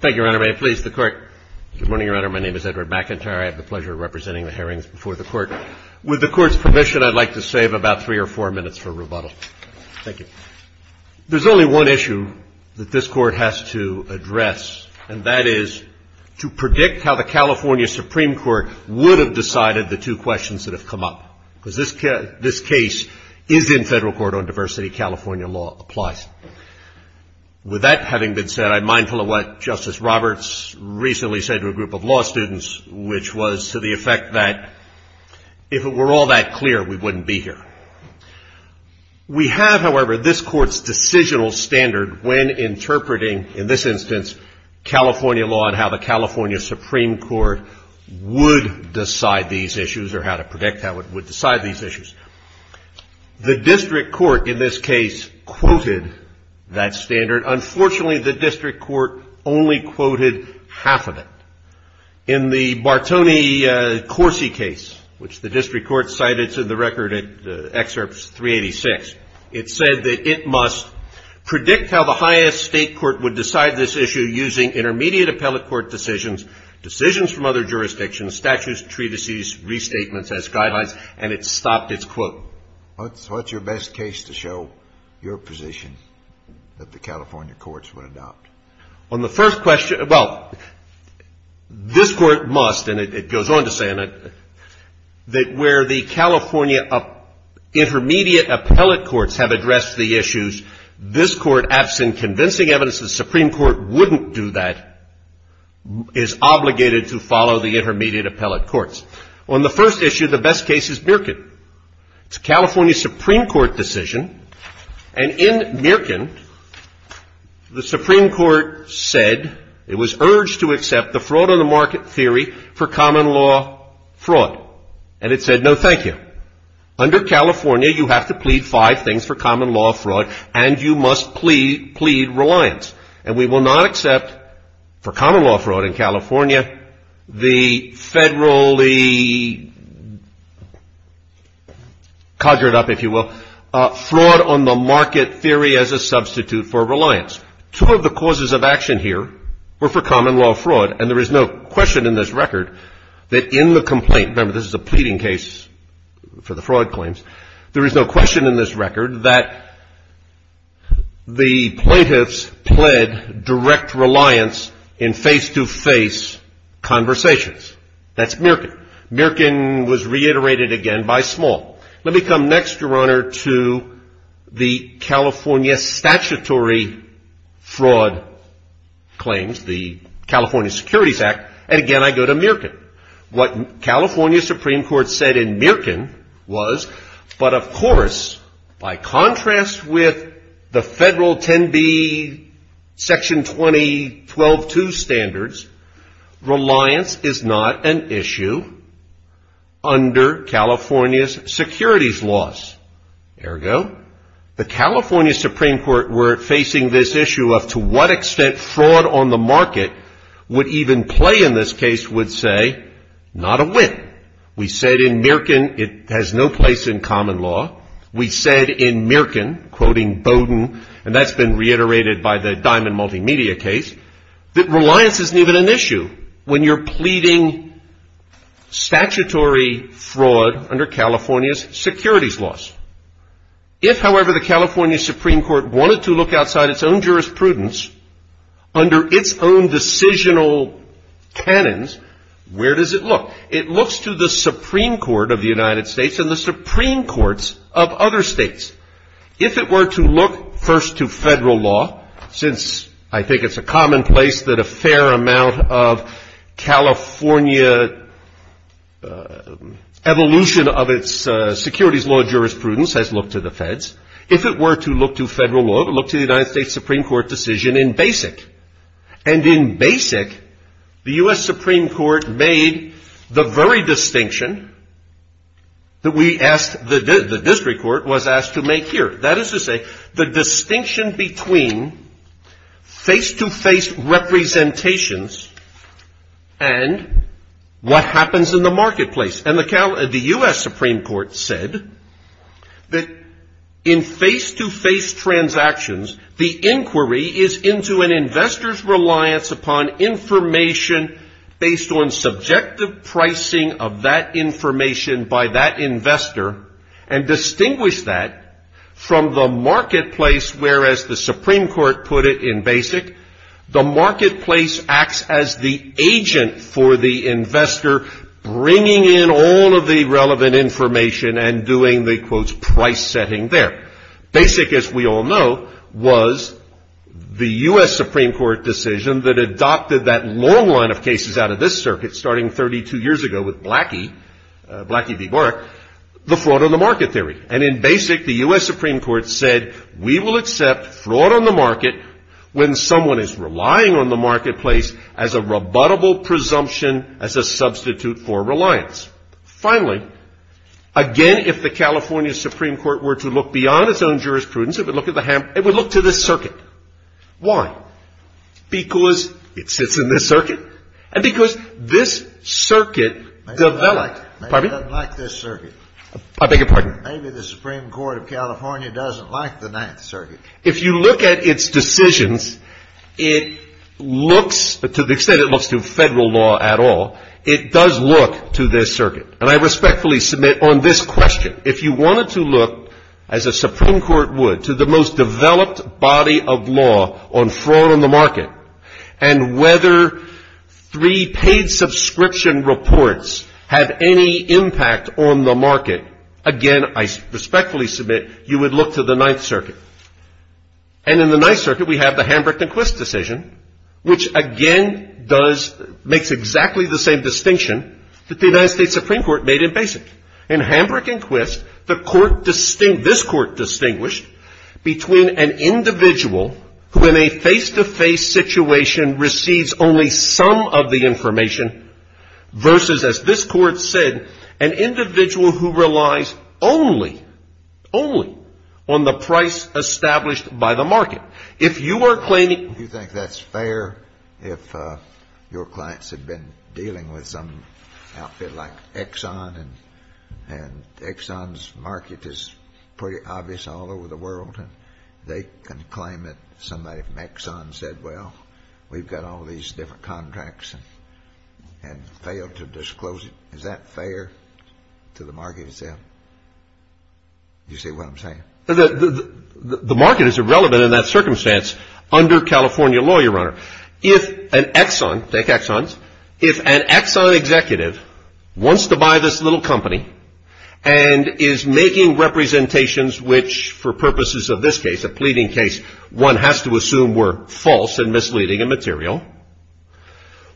Thank you, Your Honor. May it please the Court. Good morning, Your Honor. My name is Edward McIntyre. I have the pleasure of representing the hearings before the Court. With the Court's permission, I'd like to save about three or four minutes for rebuttal. Thank you. There's only one issue that this Court has to address, and that is to predict how the California Supreme Court would have decided the two questions that have come up. Because this case is in federal court on diversity. California law applies. With that having been said, I'm mindful of what Justice Roberts recently said to a group of law students, which was to the effect that if it were all that clear, we wouldn't be here. We have, however, this Court's decisional standard when interpreting, in this instance, California law and how the California Supreme Court would decide these issues or how to predict how it would decide these issues. The district court, in this case, quoted that standard. Unfortunately, the district court only quoted half of it. In the Bartoni-Corsi case, which the district court cited to the record in Excerpts 386, it said that it must predict how the highest state court would decide this issue using intermediate appellate court decisions, decisions from other jurisdictions, statutes, treatises, restatements as guidelines, and it stopped its question. It said, quote, what's your best case to show your position that the California courts would adopt? On the first question, well, this Court must, and it goes on to say, that where the California intermediate appellate courts have addressed the issues, this Court, absent convincing evidence the Supreme Court wouldn't do that, is obligated to follow the intermediate appellate courts. On the first issue, the best case is Mirkin. It's a California Supreme Court decision, and in Mirkin, the Supreme Court said it was urged to accept the fraud on the market theory for common law fraud, and it said, no, thank you. Under California, you have to plead five things for common law fraud, and you must plead reliance, and we will not accept for common law fraud in California the federally codgered up, if you will, fraud on the market theory as a substitute for reliance. Two of the causes of action here were for common law fraud, and there is no question in this record that in the complaint, remember, this is a pleading case for the fraud claims, there is no question in this record that the plaintiffs pled direct reliance in face-to-face conversations. That's Mirkin. Mirkin was reiterated again by Small. Let me come next, Your Honor, to the California statutory fraud claims, the California Securities Act, and again, I go to Mirkin. What California Supreme Court said in Mirkin was, but of course, by contrast with the federal 10B section 2012-2 standards, reliance is not an issue under California's securities laws. Ergo, the California Supreme Court were facing this issue of to what extent fraud on the market would even play in this case would say not a win. We said in Mirkin it has no place in common law. We said in Mirkin, quoting Bowdoin, and that's been reiterated by the Diamond Multimedia case, that reliance isn't even an issue when you're pleading statutory fraud under California's securities laws. If, however, the California Supreme Court wanted to look outside its own jurisprudence under its own decisional canons, where does it look? It looks to the Supreme Court of the United States and the Supreme Courts of other states. If it were to look first to federal law, since I think it's a commonplace that a fair amount of California evolution of its securities law jurisprudence has looked to the feds, if it were to look to federal law, it would look to the United States Supreme Court decision in BASIC. And in BASIC, the U.S. Supreme Court made the very distinction that the district court was asked to make here. That is to say, the distinction between face-to-face representations and what happens in the marketplace. And the U.S. Supreme Court said that in face-to-face transactions, the inquiry is into an investor's reliance upon information based on subjective pricing of that information by that investor. And distinguish that from the marketplace, whereas the Supreme Court put it in BASIC, the marketplace acts as the agent for the investor, bringing in all of the relevant information and doing the, quote, price setting there. BASIC, as we all know, was the U.S. Supreme Court decision that adopted that long line of cases out of this circuit starting 32 years ago with Blackie, Blackie v. Barrack, the fraud on the market theory. And in BASIC, the U.S. Supreme Court said, we will accept fraud on the market when someone is relying on the marketplace as a rebuttable presumption, as a substitute for reliance. Finally, again, if the California Supreme Court were to look beyond its own jurisprudence, it would look to this circuit. Why? Because it sits in this circuit and because this circuit developed. Maybe it doesn't like this circuit. I beg your pardon? Maybe the Supreme Court of California doesn't like the Ninth Circuit. If you look at its decisions, it looks, to the extent it looks to federal law at all, it does look to this circuit. And I respectfully submit on this question, if you wanted to look, as a Supreme Court would, to the most developed body of law on fraud on the market and whether three paid subscription reports have any impact on the market, again, I respectfully submit, you would look to the Ninth Circuit. And in the Ninth Circuit, we have the Hambrick and Quist decision, which again does, makes exactly the same distinction that the United States Supreme Court made in BASIC. In Hambrick and Quist, the Court distinguished, this Court distinguished between an individual who in a face-to-face situation receives only some of the information versus, as this Court said, an individual who relies only, only on the price established by the market. Do you think that's fair if your clients have been dealing with some outfit like Exxon and Exxon's market is pretty obvious all over the world and they can claim that somebody from Exxon said, well, we've got all these different contracts and failed to disclose it. Is that fair to the market itself? Do you see what I'm saying? The market is irrelevant in that circumstance under California law, Your Honor. If an Exxon, take Exxon's, if an Exxon executive wants to buy this little company and is making representations which for purposes of this case, a pleading case, one has to assume were false and misleading in material,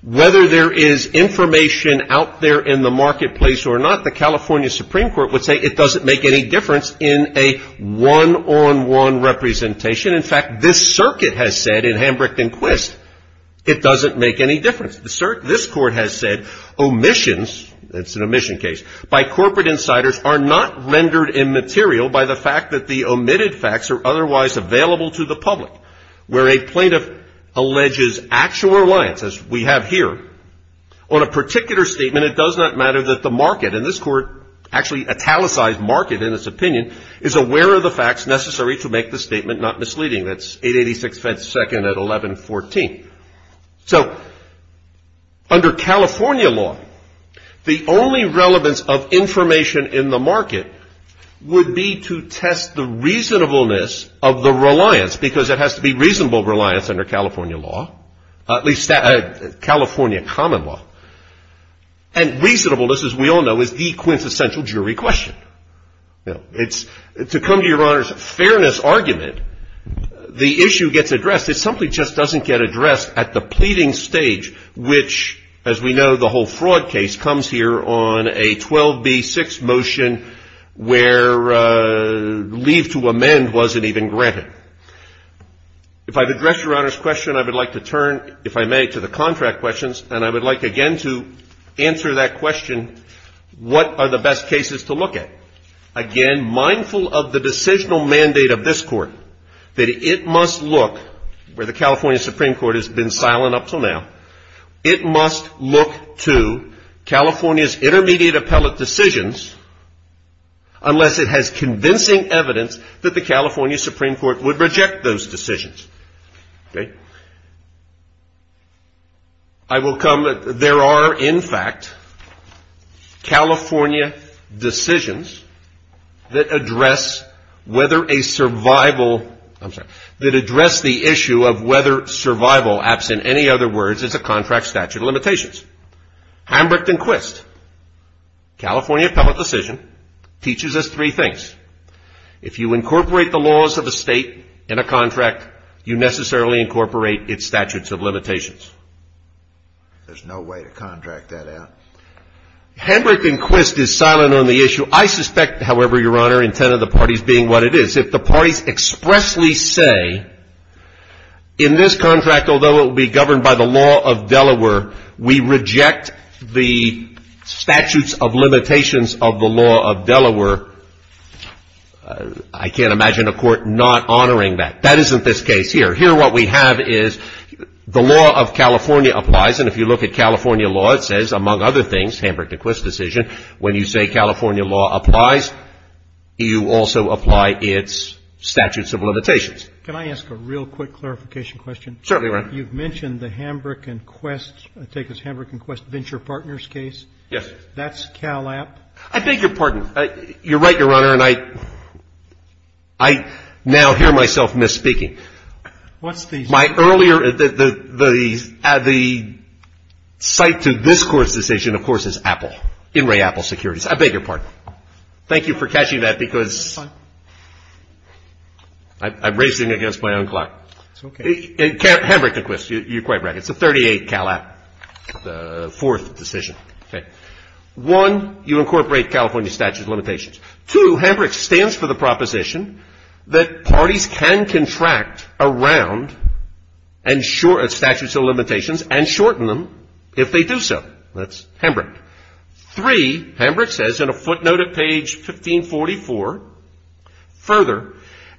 Whether there is information out there in the marketplace or not, the California Supreme Court would say it doesn't make any difference in a one-on-one representation. In fact, this circuit has said in Hambrick and Quist, it doesn't make any difference. This Court has said omissions, it's an omission case, by corporate insiders are not rendered immaterial by the fact that the omitted facts are otherwise available to the public. Where a plaintiff alleges actual reliance, as we have here, on a particular statement, it does not matter that the market, and this Court actually italicized market in its opinion, is aware of the facts necessary to make the statement not misleading. So under California law, the only relevance of information in the market would be to test the reasonableness of the reliance, because it has to be reasonable reliance under California law, at least California common law. And reasonableness, as we all know, is the quintessential jury question. To come to Your Honor's fairness argument, the issue gets addressed. It simply just doesn't get addressed at the pleading stage, which, as we know, the whole fraud case comes here on a 12b6 motion where leave to amend wasn't even granted. If I've addressed Your Honor's question, I would like to turn, if I may, to the contract questions, and I would like, again, to answer that question, what are the best cases to look at? Again, mindful of the decisional mandate of this Court, that it must look, where the California Supreme Court has been silent up until now, it must look to California's intermediate appellate decisions unless it has convincing evidence that the California Supreme Court would reject those decisions. Okay? I will come, there are, in fact, California decisions that address whether a survival, I'm sorry, that address the issue of whether survival, absent any other words, is a contract statute of limitations. Hambrick and Quist, California appellate decision, teaches us three things. If you incorporate the laws of a state in a contract, you necessarily incorporate its statutes of limitations. There's no way to contract that out. Hambrick and Quist is silent on the issue. I suspect, however, Your Honor, intent of the parties being what it is, if the parties expressly say, in this contract, although it will be governed by the law of Delaware, we reject the statutes of limitations of the law of Delaware, I can't imagine a court not honoring that. That isn't this case here. Here what we have is the law of California applies, and if you look at California law, it says, among other things, Hambrick and Quist decision, when you say California law applies, you also apply its statutes of limitations. Can I ask a real quick clarification question? Certainly, Your Honor. You've mentioned the Hambrick and Quist, I take it it's Hambrick and Quist Venture Partners case? Yes. That's Cal App? I beg your pardon. You're right, Your Honor, and I now hear myself misspeaking. What's the? My earlier, the site to this Court's decision, of course, is Apple, In re, Apple Securities. I beg your pardon. Thank you for catching that, because I'm racing against my own clock. It's okay. Hambrick and Quist, you're quite right. It's a 38 Cal App, the fourth decision. Okay. One, you incorporate California statutes of limitations. Two, Hambrick stands for the proposition that parties can contract around and shorten, statutes of limitations, and shorten them if they do so. That's Hambrick. Three, Hambrick says in a footnote at page 1544, further,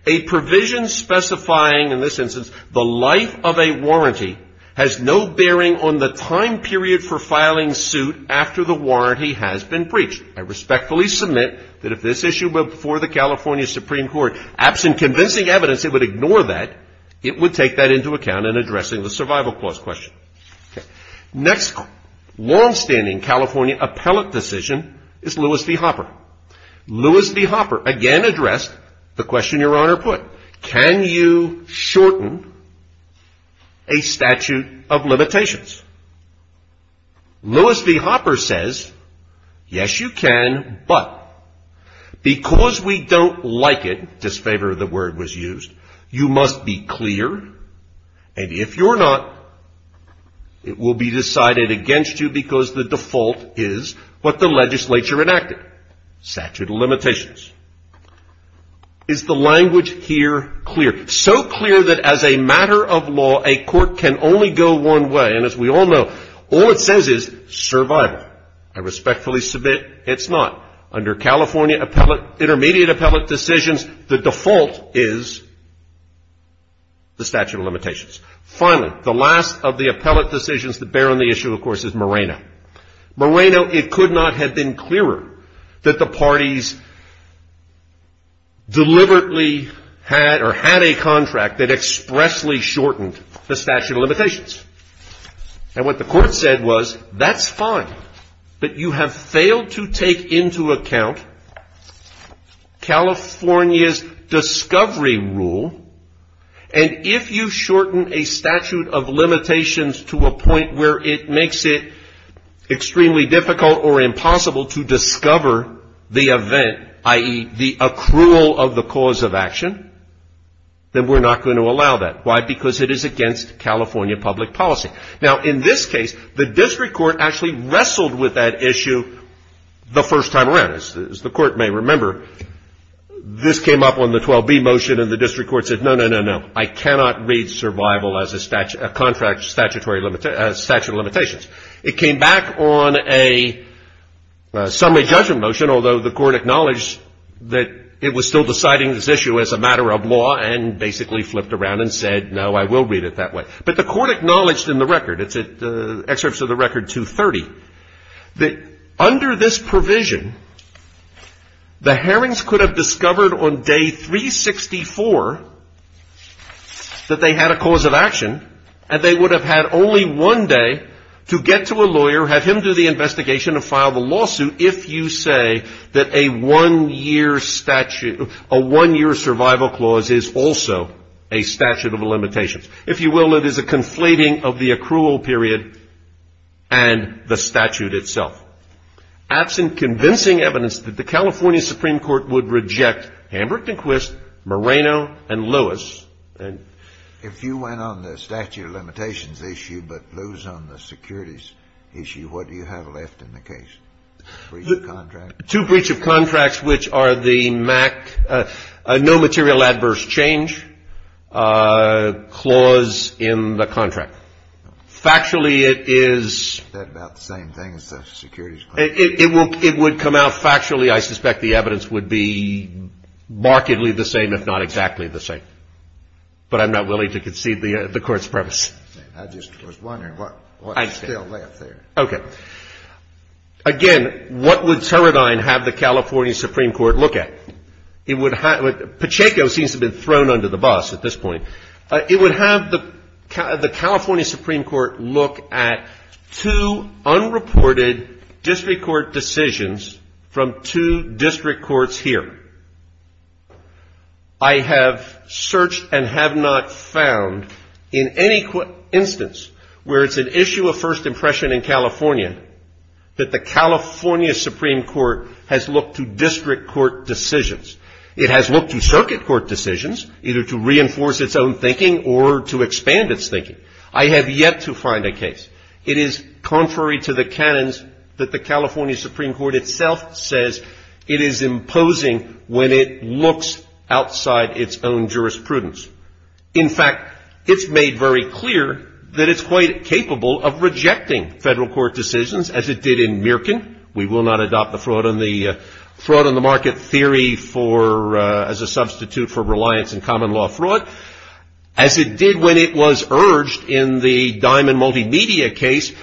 a provision specifying, in this instance, the life of a warranty has no bearing on the time period for filing suit after the warranty has been breached. I respectfully submit that if this issue were before the California Supreme Court, absent convincing evidence, it would ignore that. It would take that into account in addressing the survival clause question. Okay. Next longstanding California appellate decision is Lewis v. Hopper. Lewis v. Hopper again addressed the question Your Honor put. Can you shorten a statute of limitations? Lewis v. Hopper says, yes, you can, but because we don't like it, disfavor of the word was used, you must be clear, and if you're not, it will be decided against you because the default is what the legislature enacted. Statute of limitations. Is the language here clear? So clear that as a matter of law, a court can only go one way, and as we all know, all it says is survival. I respectfully submit it's not. Under California appellate, intermediate appellate decisions, the default is the statute of limitations. Finally, the last of the appellate decisions that bear on the issue, of course, is Moreno. Moreno, it could not have been clearer that the parties deliberately had or had a contract that expressly shortened the statute of limitations. And what the court said was, that's fine, but you have failed to take into account California's discovery rule, and if you shorten a statute of limitations to a point where it makes it extremely difficult or impossible to discover the event, i.e., the accrual of the cause of action, then we're not going to allow that. Why? Because it is against California public policy. Now, in this case, the district court actually wrestled with that issue the first time around. As the court may remember, this came up on the 12B motion, and the district court said, no, no, no, no. I cannot read survival as a contract statute of limitations. It came back on a summary judgment motion, although the court acknowledged that it was still deciding this issue as a matter of law and basically flipped around and said, no, I will read it that way. But the court acknowledged in the record, it's excerpts of the record 230, that under this provision, the Herrings could have discovered on day 364 that they had a cause of action, and they would have had only one day to get to a lawyer, have him do the investigation and file the lawsuit, if you say that a one-year survival clause is also a statute of limitations. If you will, it is a conflating of the accrual period and the statute itself. Absent convincing evidence that the California Supreme Court would reject Hambrick and Quist, Moreno and Lewis. And if you went on the statute of limitations issue but lose on the securities issue, what do you have left in the case? Two breach of contracts, which are the no material adverse change clause in the contract. Factually, it is the same thing as the securities clause. It would come out factually, I suspect the evidence would be markedly the same, if not exactly the same. But I'm not willing to concede the court's premise. I just was wondering what's still left there. Okay. Again, what would Teradyne have the California Supreme Court look at? Pacheco seems to have been thrown under the bus at this point. It would have the California Supreme Court look at two unreported district court decisions from two district courts here. I have searched and have not found in any instance where it's an issue of first impression in California that the California Supreme Court has looked to district court decisions. It has looked to circuit court decisions, either to reinforce its own thinking or to expand its thinking. It is contrary to the canons that the California Supreme Court itself says it is imposing when it looks outside its own jurisprudence. In fact, it's made very clear that it's quite capable of rejecting federal court decisions as it did in Mirkin. We will not adopt the fraud on the market theory for as a substitute for reliance and common law fraud. As it did when it was urged in the Diamond Multimedia case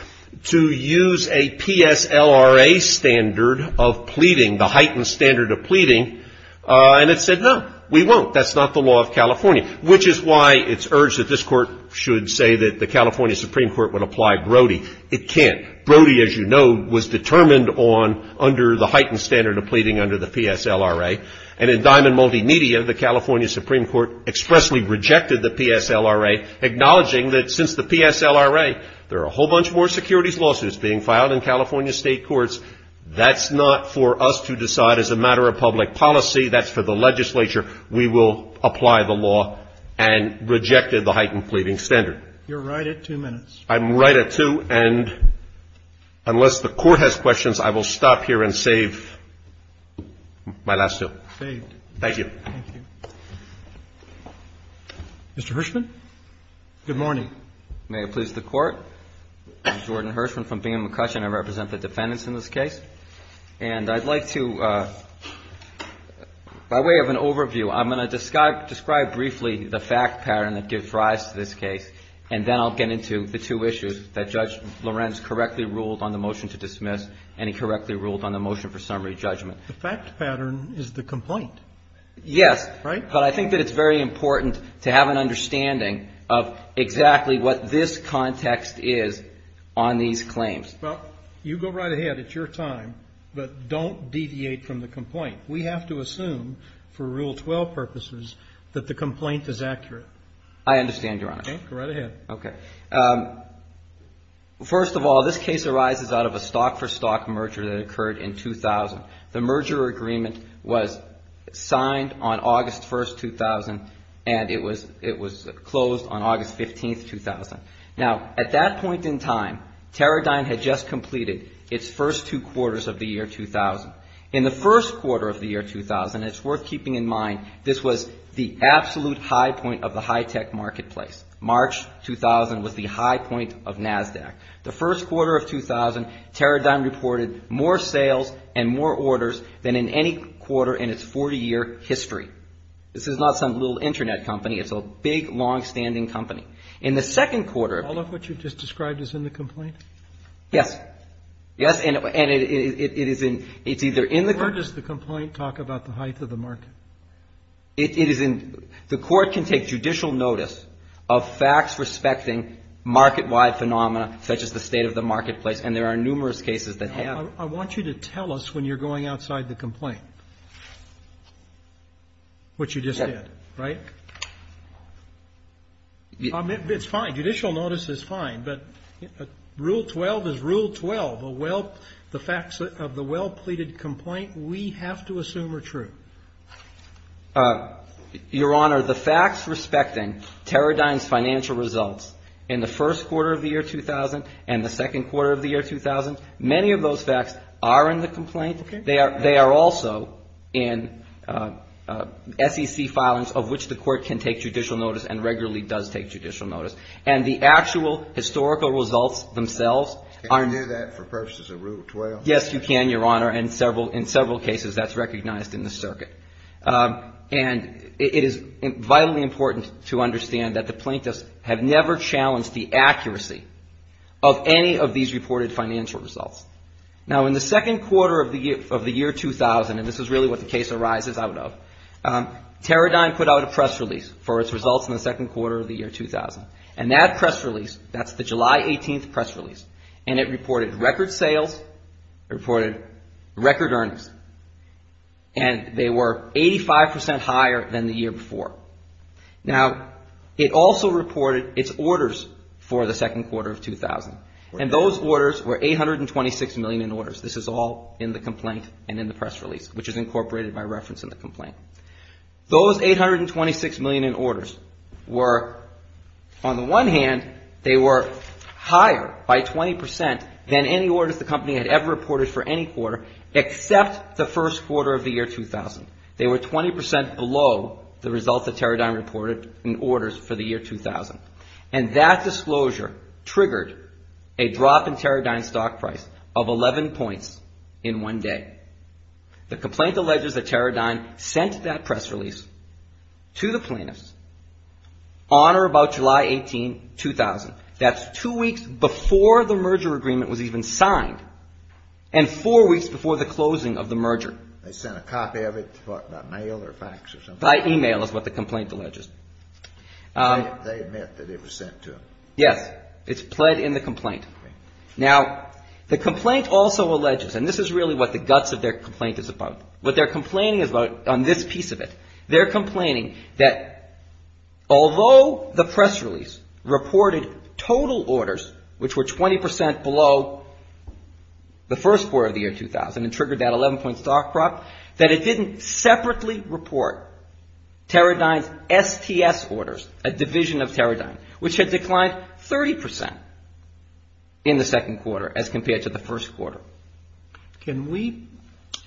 to use a PSLRA standard of pleading, the heightened standard of pleading. And it said, no, we won't. That's not the law of California, which is why it's urged that this court should say that the California Supreme Court would apply Brody. It can't. Brody, as you know, was determined on under the heightened standard of pleading under the PSLRA. And in Diamond Multimedia, the California Supreme Court expressly rejected the PSLRA, acknowledging that since the PSLRA, there are a whole bunch more securities lawsuits being filed in California state courts. That's not for us to decide as a matter of public policy. That's for the legislature. We will apply the law and rejected the heightened pleading standard. You're right at two minutes. I'm right at two. And unless the Court has questions, I will stop here and save my last two. Saved. Thank you. Thank you. Mr. Hirshman? Good morning. May it please the Court? I'm Jordan Hirshman from Bingham & McCushin. I represent the defendants in this case. And I'd like to, by way of an overview, I'm going to describe briefly the fact pattern that gives rise to this case, and then I'll get into the two issues that Judge Lorenz correctly ruled on the motion to dismiss, and he correctly ruled on the motion for summary judgment. The fact pattern is the complaint. Yes. Right? But I think that it's very important to have an understanding of exactly what this context is on these claims. Well, you go right ahead. It's your time. But don't deviate from the complaint. We have to assume, for Rule 12 purposes, that the complaint is accurate. I understand, Your Honor. Go right ahead. Okay. First of all, this case arises out of a stock-for-stock merger that occurred in 2000. The merger agreement was signed on August 1, 2000, and it was closed on August 15, 2000. Now, at that point in time, Teradyne had just completed its first two quarters of the year 2000. In the first quarter of the year 2000, it's worth keeping in mind this was the absolute high point of the high-tech marketplace. March 2000 was the high point of NASDAQ. The first quarter of 2000, Teradyne reported more sales and more orders than in any quarter in its 40-year history. This is not some little Internet company. It's a big, long-standing company. In the second quarter of the year 2000 ---- All of what you just described is in the complaint? Yes. Yes. And it's either in the ---- Where does the complaint talk about the height of the market? It is in the court can take judicial notice of facts respecting market-wide phenomena such as the state of the marketplace, and there are numerous cases that have. I want you to tell us when you're going outside the complaint what you just said, right? It's fine. Judicial notice is fine. But Rule 12 is Rule 12, the facts of the well-pleaded complaint. We have to assume are true. Your Honor, the facts respecting Teradyne's financial results in the first quarter of the year 2000 and the second quarter of the year 2000, many of those facts are in the complaint. They are also in SEC filings of which the court can take judicial notice and regularly does take judicial notice. And the actual historical results themselves are ---- Can you do that for purposes of Rule 12? Yes, you can, Your Honor, and in several cases that's recognized in the circuit. And it is vitally important to understand that the plaintiffs have never challenged the accuracy of any of these reported financial results. Now, in the second quarter of the year 2000, and this is really what the case arises out of, Teradyne put out a press release for its second quarter of the year 2000. And that press release, that's the July 18th press release, and it reported record sales, reported record earnings. And they were 85 percent higher than the year before. Now, it also reported its orders for the second quarter of 2000. And those orders were $826 million in orders. This is all in the complaint and in the press release, which is incorporated by reference in the complaint. Those $826 million in orders were, on the one hand, they were higher by 20 percent than any orders the company had ever reported for any quarter except the first quarter of the year 2000. They were 20 percent below the results that Teradyne reported in orders for the year 2000. And that disclosure triggered a drop in Teradyne's stock price of 11 points in one day. The complaint alleges that Teradyne sent that press release to the plaintiffs on or about July 18, 2000. That's two weeks before the merger agreement was even signed and four weeks before the closing of the merger. They sent a copy of it by mail or fax or something? By email is what the complaint alleges. They admit that it was sent to them. Yes. It's pled in the complaint. Now, the complaint also alleges, and this is really what the guts of their complaint is about. What they're complaining about on this piece of it, they're complaining that although the press release reported total orders, which were 20 percent below the first quarter of the year 2000 and triggered that 11-point stock drop, that it didn't separately report Teradyne's STS orders, a division of Teradyne, which had declined 30 percent in the second quarter as compared to the first quarter. Can we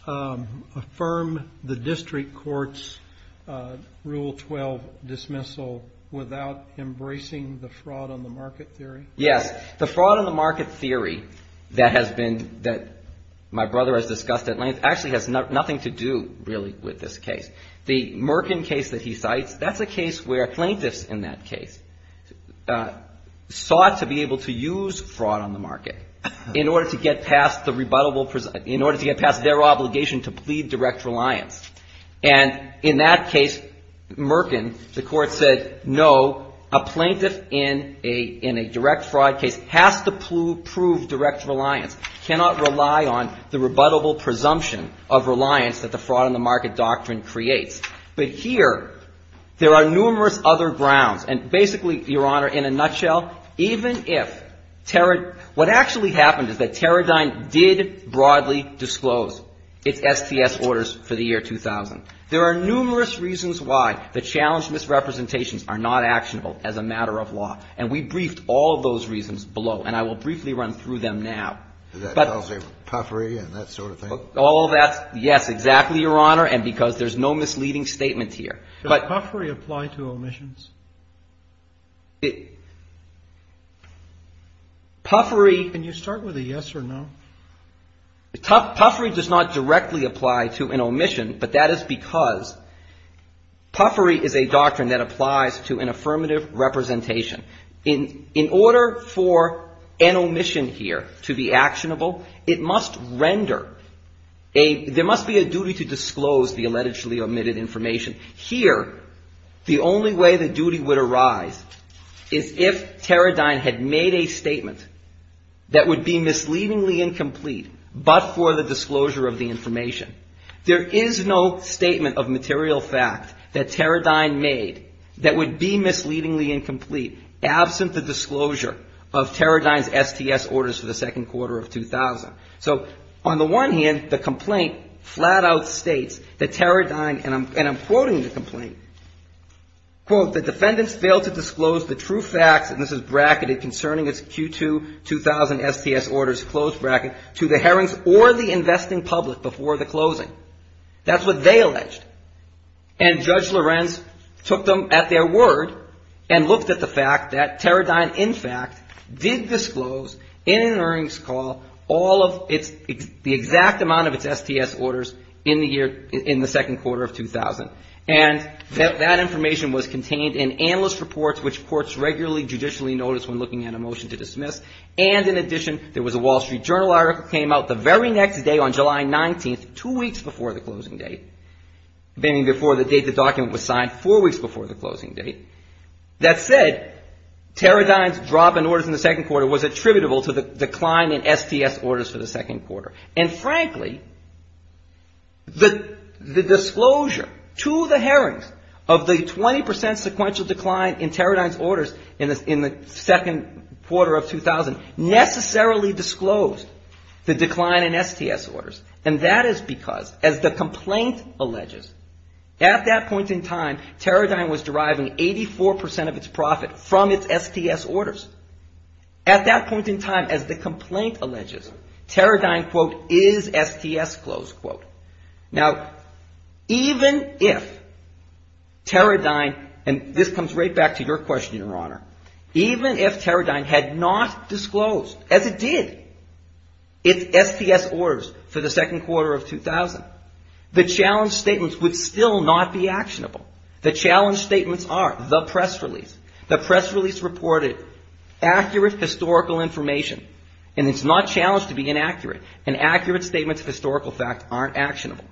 affirm the district court's Rule 12 dismissal without embracing the fraud on the market theory? Yes. The fraud on the market theory that my brother has discussed at length actually has nothing to do really with this case. The Merkin case that he cites, that's a case where plaintiffs in that case sought to be able to use fraud on the market in order to get past the rebuttable, in order to get past their obligation to plead direct reliance. And in that case, Merkin, the court said, no, a plaintiff in a direct fraud case has to prove direct reliance, cannot rely on the rebuttable presumption of reliance that the fraud on the market doctrine creates. But here, there are numerous other grounds. And basically, Your Honor, in a nutshell, even if what actually happened is that Teradyne did broadly disclose its STS orders for the year 2000. There are numerous reasons why the challenged misrepresentations are not actionable as a matter of law. And we briefed all of those reasons below. And I will briefly run through them now. Puffery and that sort of thing? All of that, yes, exactly, Your Honor, and because there's no misleading statement here. Does puffery apply to omissions? Puffery. Can you start with a yes or no? Puffery does not directly apply to an omission, but that is because puffery is a doctrine that applies to an affirmative representation. In order for an omission here to be actionable, it must render a, there must be a duty to disclose the allegedly omitted information. Here, the only way the duty would arise is if Teradyne had made a statement that would be misleadingly incomplete, but for the disclosure of the information. There is no statement of material fact that Teradyne made that would be misleadingly incomplete absent the disclosure of Teradyne's STS orders for the second quarter of 2000. So on the one hand, the complaint flat out states that Teradyne, and I'm quoting the complaint, quote, the defendants failed to disclose the true facts, and this is bracketed concerning its Q2 2000 STS orders, close bracket, to the hearings or the investing public before the closing. That's what they alleged. And Judge Lorenz took them at their word and looked at the fact that Teradyne, in fact, did disclose in an earnings call all of its, the exact amount of its STS orders in the year, in the second quarter of 2000. And that information was contained in analyst reports, which courts regularly judicially notice when looking at a motion to dismiss. And in addition, there was a Wall Street Journal article that came out the very next day on July 19th, two weeks before the closing date, meaning before the date the document was signed, four weeks before the closing date, that said Teradyne's drop in orders in the second quarter was attributable to the decline in STS orders for the second quarter. And frankly, the disclosure to the hearings of the 20% sequential decline in Teradyne's orders in the second quarter of 2000 necessarily disclosed the decline in STS orders. And that is because, as the complaint alleges, at that point in time, Teradyne was deriving 84% of its profit from its STS orders. At that point in time, as the complaint alleges, Teradyne, quote, is STS close, quote. Now, even if Teradyne, and this comes right back to your question, Your Honor. Even if Teradyne had not disclosed, as it did, its STS orders for the second quarter of 2000, the challenge statements would still not be actionable. The challenge statements are the press release. The press release reported accurate historical information. And it's not challenged to be inaccurate. And accurate statements of historical fact aren't actionable.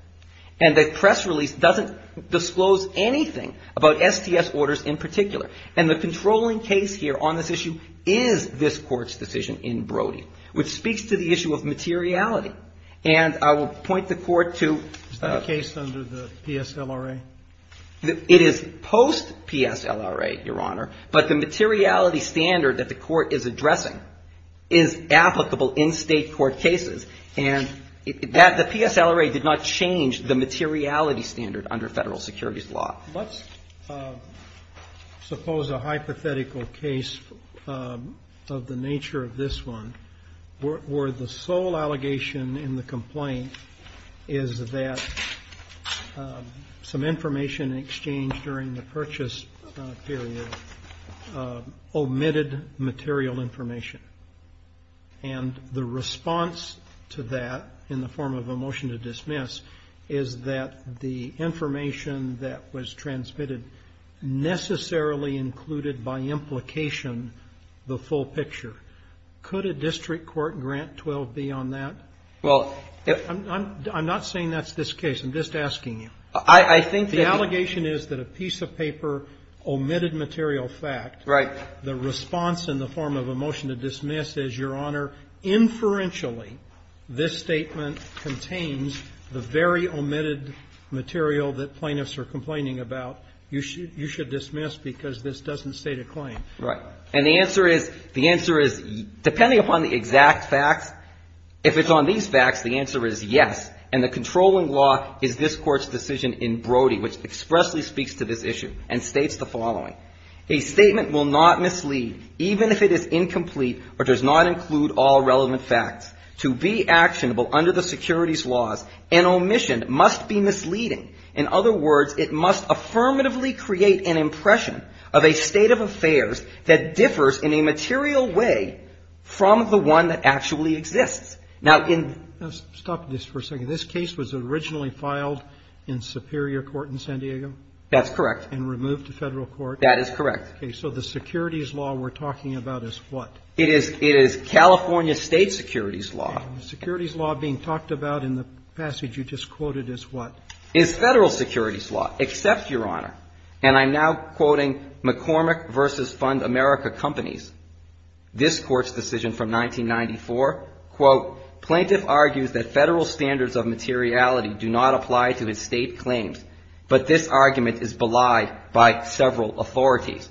And the press release doesn't disclose anything about STS orders in particular. And the controlling case here on this issue is this Court's decision in Brody, which speaks to the issue of materiality. And I will point the Court to the case under the PSLRA. It is post-PSLRA, Your Honor. But the materiality standard that the Court is addressing is applicable in State court cases. And the PSLRA did not change the materiality standard under Federal securities law. Let's suppose a hypothetical case of the nature of this one, where the sole allegation in the complaint is that some information exchanged during the purchase period omitted material information. And the response to that in the form of a motion to dismiss is that the information that was transmitted necessarily included by implication the full picture. Could a district court grant 12B on that? I'm not saying that's this case. I'm just asking you. The allegation is that a piece of paper omitted material fact. Right. The response in the form of a motion to dismiss is, Your Honor, inferentially this statement contains the very omitted material that plaintiffs are complaining about you should dismiss because this doesn't state a claim. Right. And the answer is, the answer is, depending upon the exact facts, if it's on these facts, the answer is yes. And the controlling law is this Court's decision in Brody, which expressly speaks to this issue and states the following. A statement will not mislead, even if it is incomplete or does not include all relevant facts. To be actionable under the securities laws, an omission must be misleading. In other words, it must affirmatively create an impression of a state of affairs that differs in a material way from the one that actually exists. Now, in the ---- Stop this for a second. This case was originally filed in Superior Court in San Diego? That's correct. And removed to Federal Court? That is correct. Okay. So the securities law we're talking about is what? It is California State securities law. And the securities law being talked about in the passage you just quoted is what? It's Federal securities law, except, Your Honor, and I'm now quoting McCormick v. Fund America Companies, this Court's decision from 1994. Quote, Plaintiff argues that Federal standards of materiality do not apply to his state authorities.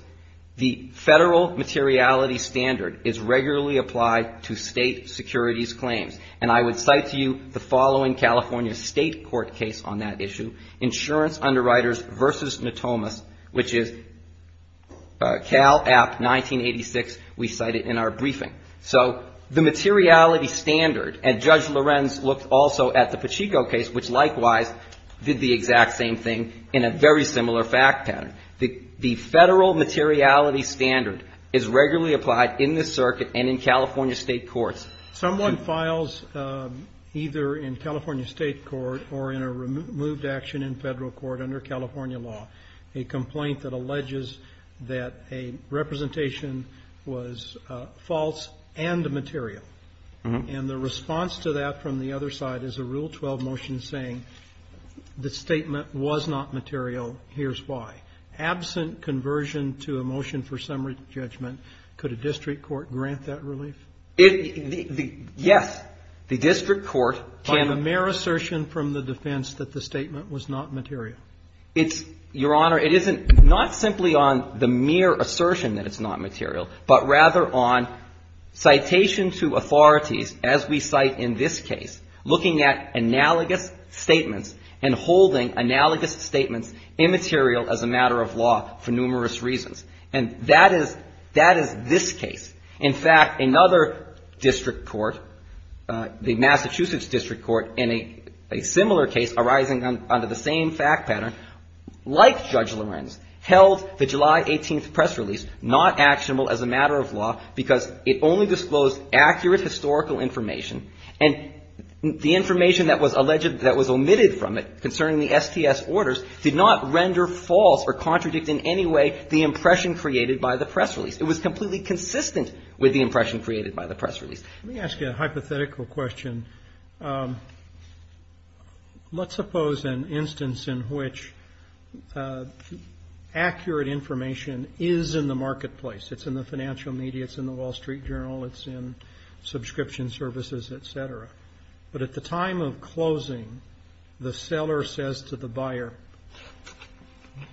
The Federal materiality standard is regularly applied to state securities claims. And I would cite to you the following California State court case on that issue, Insurance Underwriters v. Natomas, which is Cal App 1986. We cite it in our briefing. So the materiality standard, and Judge Lorenz looked also at the Pachico case, which likewise did the exact same thing in a very similar fact pattern. The Federal materiality standard is regularly applied in this circuit and in California State courts. Someone files either in California State court or in a removed action in Federal court under California law a complaint that alleges that a representation was false and material. And the response to that from the other side is a Rule 12 motion saying the statement was not material. Here's why. Absent conversion to a motion for summary judgment, could a district court grant that relief? Yes. The district court can. By the mere assertion from the defense that the statement was not material. It's, Your Honor, it isn't not simply on the mere assertion that it's not material, but rather on citation to authorities, as we cite in this case, looking at analogous statements, immaterial as a matter of law for numerous reasons. And that is this case. In fact, another district court, the Massachusetts District Court, in a similar case arising under the same fact pattern, like Judge Lorenz, held the July 18th press release not actionable as a matter of law because it only disclosed accurate historical information. And the information that was omitted from it concerning the STS orders did not render false or contradict in any way the impression created by the press release. It was completely consistent with the impression created by the press release. Let me ask you a hypothetical question. Let's suppose an instance in which accurate information is in the marketplace. It's in the financial media. It's in the Wall Street Journal. It's in subscription services, et cetera. But at the time of closing, the seller says to the buyer,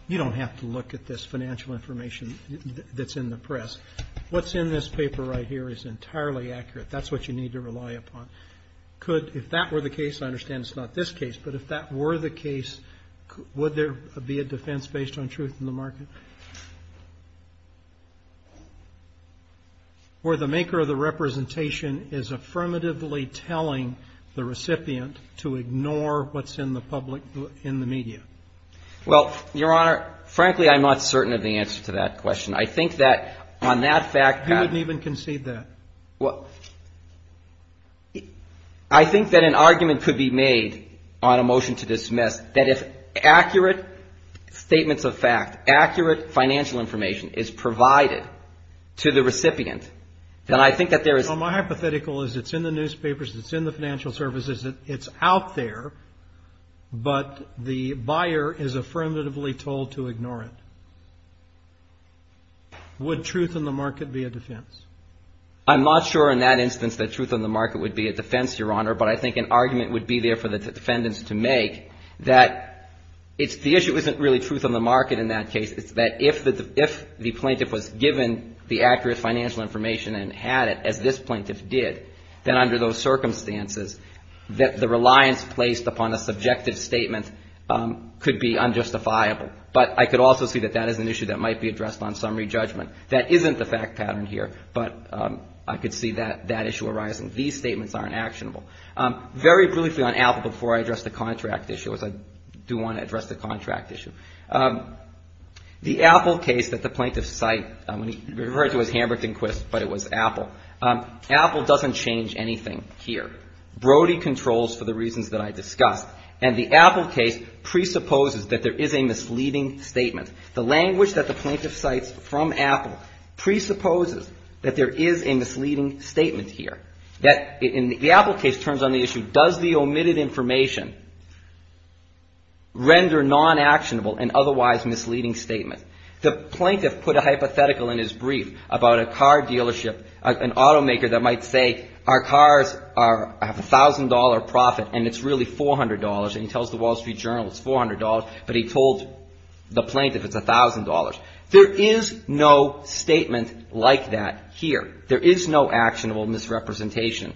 you don't have to look at this financial information that's in the press. What's in this paper right here is entirely accurate. That's what you need to rely upon. Could, if that were the case, I understand it's not this case, but if that were the case, would there be a defense based on truth in the market? Where the maker of the representation is affirmatively telling the recipient to ignore what's in the public, in the media? Well, Your Honor, frankly, I'm not certain of the answer to that question. I think that on that fact that You wouldn't even concede that. Well, I think that an argument could be made on a motion to dismiss that if accurate statements of fact, accurate financial information is provided to the recipient, then I think that there is. Well, my hypothetical is it's in the newspapers, it's in the financial services, it's out there, but the buyer is affirmatively told to ignore it. Would truth in the market be a defense? I'm not sure in that instance that truth in the market would be a defense, Your Honor, but I think an argument would be there for the defendants to make that it's the issue isn't really truth in the market in that case. It's that if the plaintiff was given the accurate financial information and had it, as this plaintiff did, then under those circumstances, the reliance placed upon a subjective statement could be unjustifiable. But I could also see that that is an issue that might be addressed on summary judgment. That isn't the fact pattern here, but I could see that issue arising. These statements aren't actionable. Very briefly on Apple before I address the contract issue, as I do want to address the contract issue. The Apple case that the plaintiffs cite, referred to as Hamburg and Quist, but it was Apple. Apple doesn't change anything here. Brody controls for the reasons that I discussed. And the Apple case presupposes that there is a misleading statement. The language that the plaintiff cites from Apple presupposes that there is a misleading statement here. The Apple case turns on the issue, does the omitted information render non-actionable an otherwise misleading statement? The plaintiff put a hypothetical in his brief about a car dealership, an automaker that might say our cars have a $1,000 profit and it's really $400. And he tells the Wall Street Journal it's $400, but he told the plaintiff it's $1,000. There is no statement like that here. There is no actionable misrepresentation.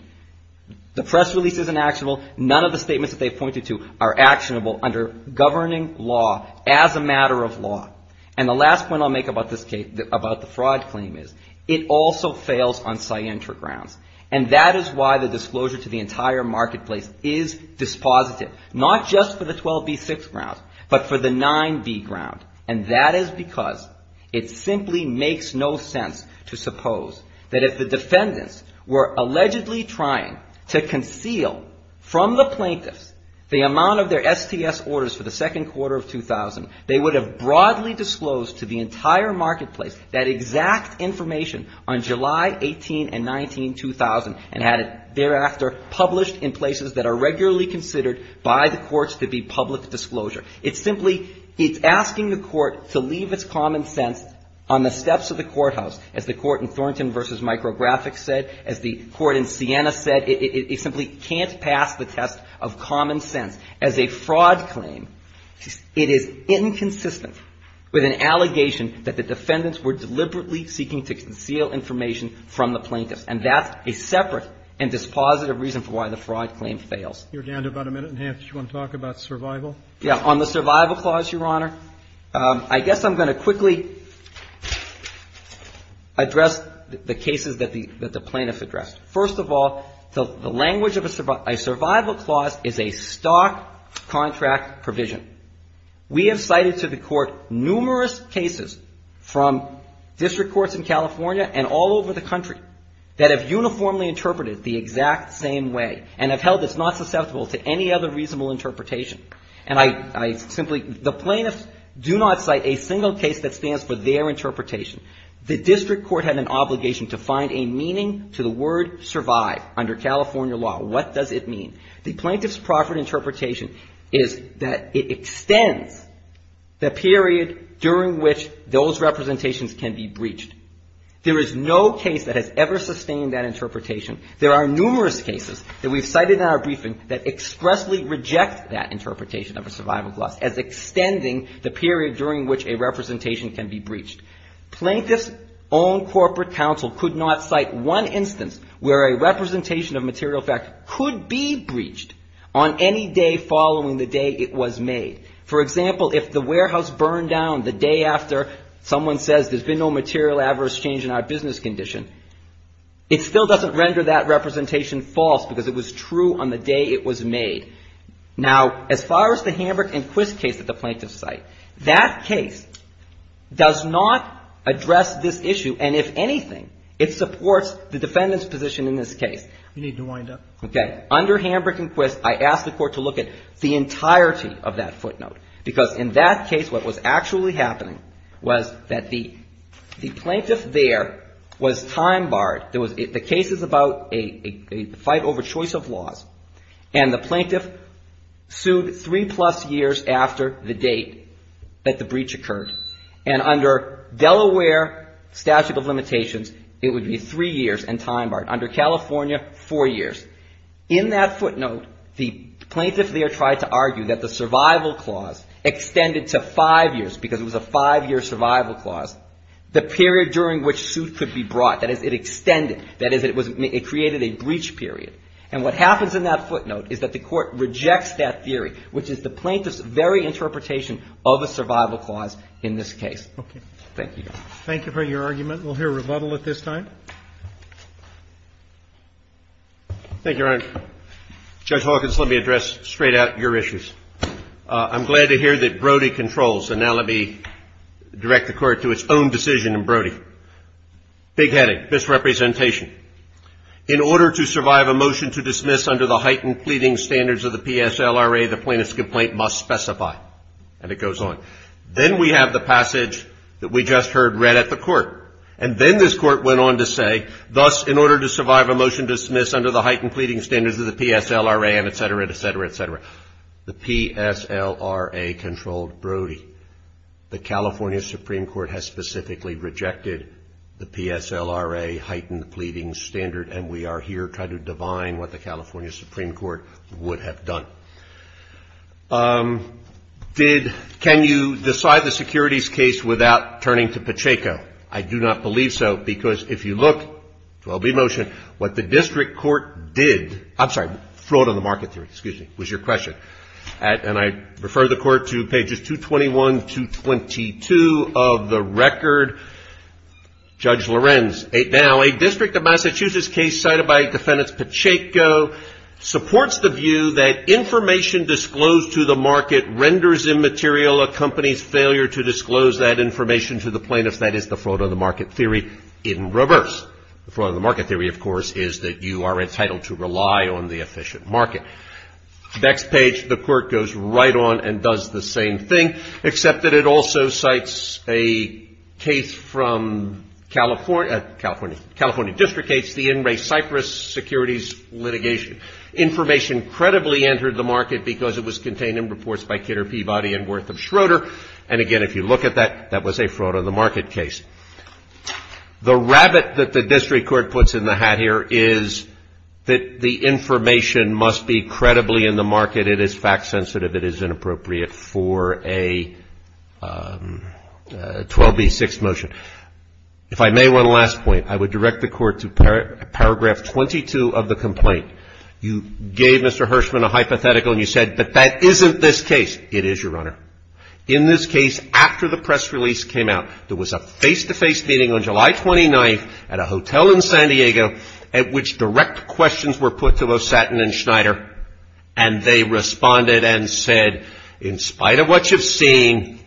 The press release isn't actionable. None of the statements that they pointed to are actionable under governing law as a matter of law. And the last point I'll make about the fraud claim is it also fails on scientra grounds. And that is why the disclosure to the entire marketplace is dispositive, not just for the 12b6 grounds, but for the 9b ground. And that is because it simply makes no sense to suppose that if the defendants were allegedly trying to conceal from the plaintiffs the amount of their STS orders for the second quarter of 2000, they would have broadly disclosed to the entire marketplace that exact information on July 18 and 19, 2000, and had it thereafter published in places that are regularly considered by the courts to be public disclosure. It's simply, it's asking the court to leave its common sense on the steps of the courthouse, as the court in Thornton v. Micrographics said, as the court in Siena said. It simply can't pass the test of common sense. As a fraud claim, it is inconsistent with an allegation that the defendants were deliberately seeking to conceal information from the plaintiffs. And that's a separate and dispositive reason for why the fraud claim fails. You're down to about a minute and a half. Do you want to talk about survival? Yeah. On the survival clause, Your Honor, I guess I'm going to quickly address the cases that the plaintiffs addressed. First of all, the language of a survival clause is a stock contract provision. We have cited to the court numerous cases from district courts in California and all over the country that have uniformly interpreted it the exact same way and have held it's not susceptible to any other reasonable interpretation. And I simply, the plaintiffs do not cite a single case that stands for their interpretation. The district court had an obligation to find a meaning to the word survive under California law. What does it mean? The plaintiff's proper interpretation is that it extends the period during which those representations can be breached. There is no case that has ever sustained that interpretation. There are numerous cases that we've cited in our briefing that expressly reject that interpretation of a survival clause as extending the period during which a representation can be breached. Plaintiffs' own corporate counsel could not cite one instance where a representation of material fact could be breached on any day following the day it was made. For example, if the warehouse burned down the day after someone says there's been no material adverse change in our business condition, it still doesn't render that representation false because it was true on the day it was made. Now, as far as the Hamburg and Quist case that the plaintiffs cite, that case does not address this issue. And if anything, it supports the defendant's position in this case. We need to wind up. Okay. Under Hamburg and Quist, I asked the Court to look at the entirety of that footnote, because in that case what was actually happening was that the plaintiff there was time barred. The case is about a fight over choice of laws. And the plaintiff sued three-plus years after the date that the breach occurred. And under Delaware statute of limitations, it would be three years and time barred. Under California, four years. In that footnote, the plaintiff there tried to argue that the survival clause extended to five years, because it was a five-year survival clause, the period during which suit could be brought. That is, it extended. That is, it created a breach period. And what happens in that footnote is that the Court rejects that theory, which is the plaintiff's very interpretation of a survival clause in this case. Okay. Thank you. Thank you for your argument. We'll hear rebuttal at this time. Thank you, Your Honor. Judge Hawkins, let me address straight out your issues. I'm glad to hear that Brody controls. And now let me direct the Court to its own decision in Brody. Big headache, misrepresentation. In order to survive a motion to dismiss under the heightened pleading standards of the PSLRA, the plaintiff's complaint must specify. And it goes on. Then we have the passage that we just heard read at the Court. And then this Court went on to say, thus, in order to survive a motion to dismiss under the heightened pleading standards of the PSLRA, and et cetera, et cetera, et cetera. The PSLRA controlled Brody. The California Supreme Court has specifically rejected the PSLRA heightened pleading standard. And we are here trying to divine what the California Supreme Court would have done. Can you decide the securities case without turning to Pacheco? I do not believe so. Because if you look, 12b motion, what the district court did, I'm sorry, fraud on the market theory, excuse me, was your question. And I refer the Court to pages 221, 222 of the record. Judge Lorenz. Now, a district of Massachusetts case cited by Defendant Pacheco supports the view that information disclosed to the market renders immaterial a company's failure to disclose that information to the plaintiffs. That is the fraud on the market theory in reverse. The fraud on the market theory, of course, is that you are entitled to rely on the efficient market. Next page, the Court goes right on and does the same thing, except that it also cites a case from California. California district case, the In Re Cyprus securities litigation. Information credibly entered the market because it was contained in reports by Kidder Peabody and Wortham Schroeder. And, again, if you look at that, that was a fraud on the market case. The rabbit that the district court puts in the hat here is that the information must be credibly in the market. It is fact sensitive. It is inappropriate for a 12b6 motion. If I may, one last point. I would direct the Court to paragraph 22 of the complaint. You gave Mr. Hirschman a hypothetical and you said, but that isn't this case. It is, Your Honor. In this case, after the press release came out, there was a face-to-face meeting on July 29th at a hotel in San Diego, at which direct questions were put to Losatin and Schneider, and they responded and said, in spite of what you've seen,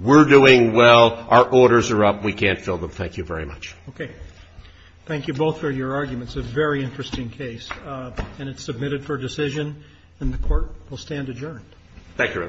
we're doing well, our orders are up, we can't fill them. Thank you very much. Okay. Thank you both for your arguments. It's a very interesting case, and it's submitted for decision, and the Court will stand adjourned. Thank you, Your Honor. All rise.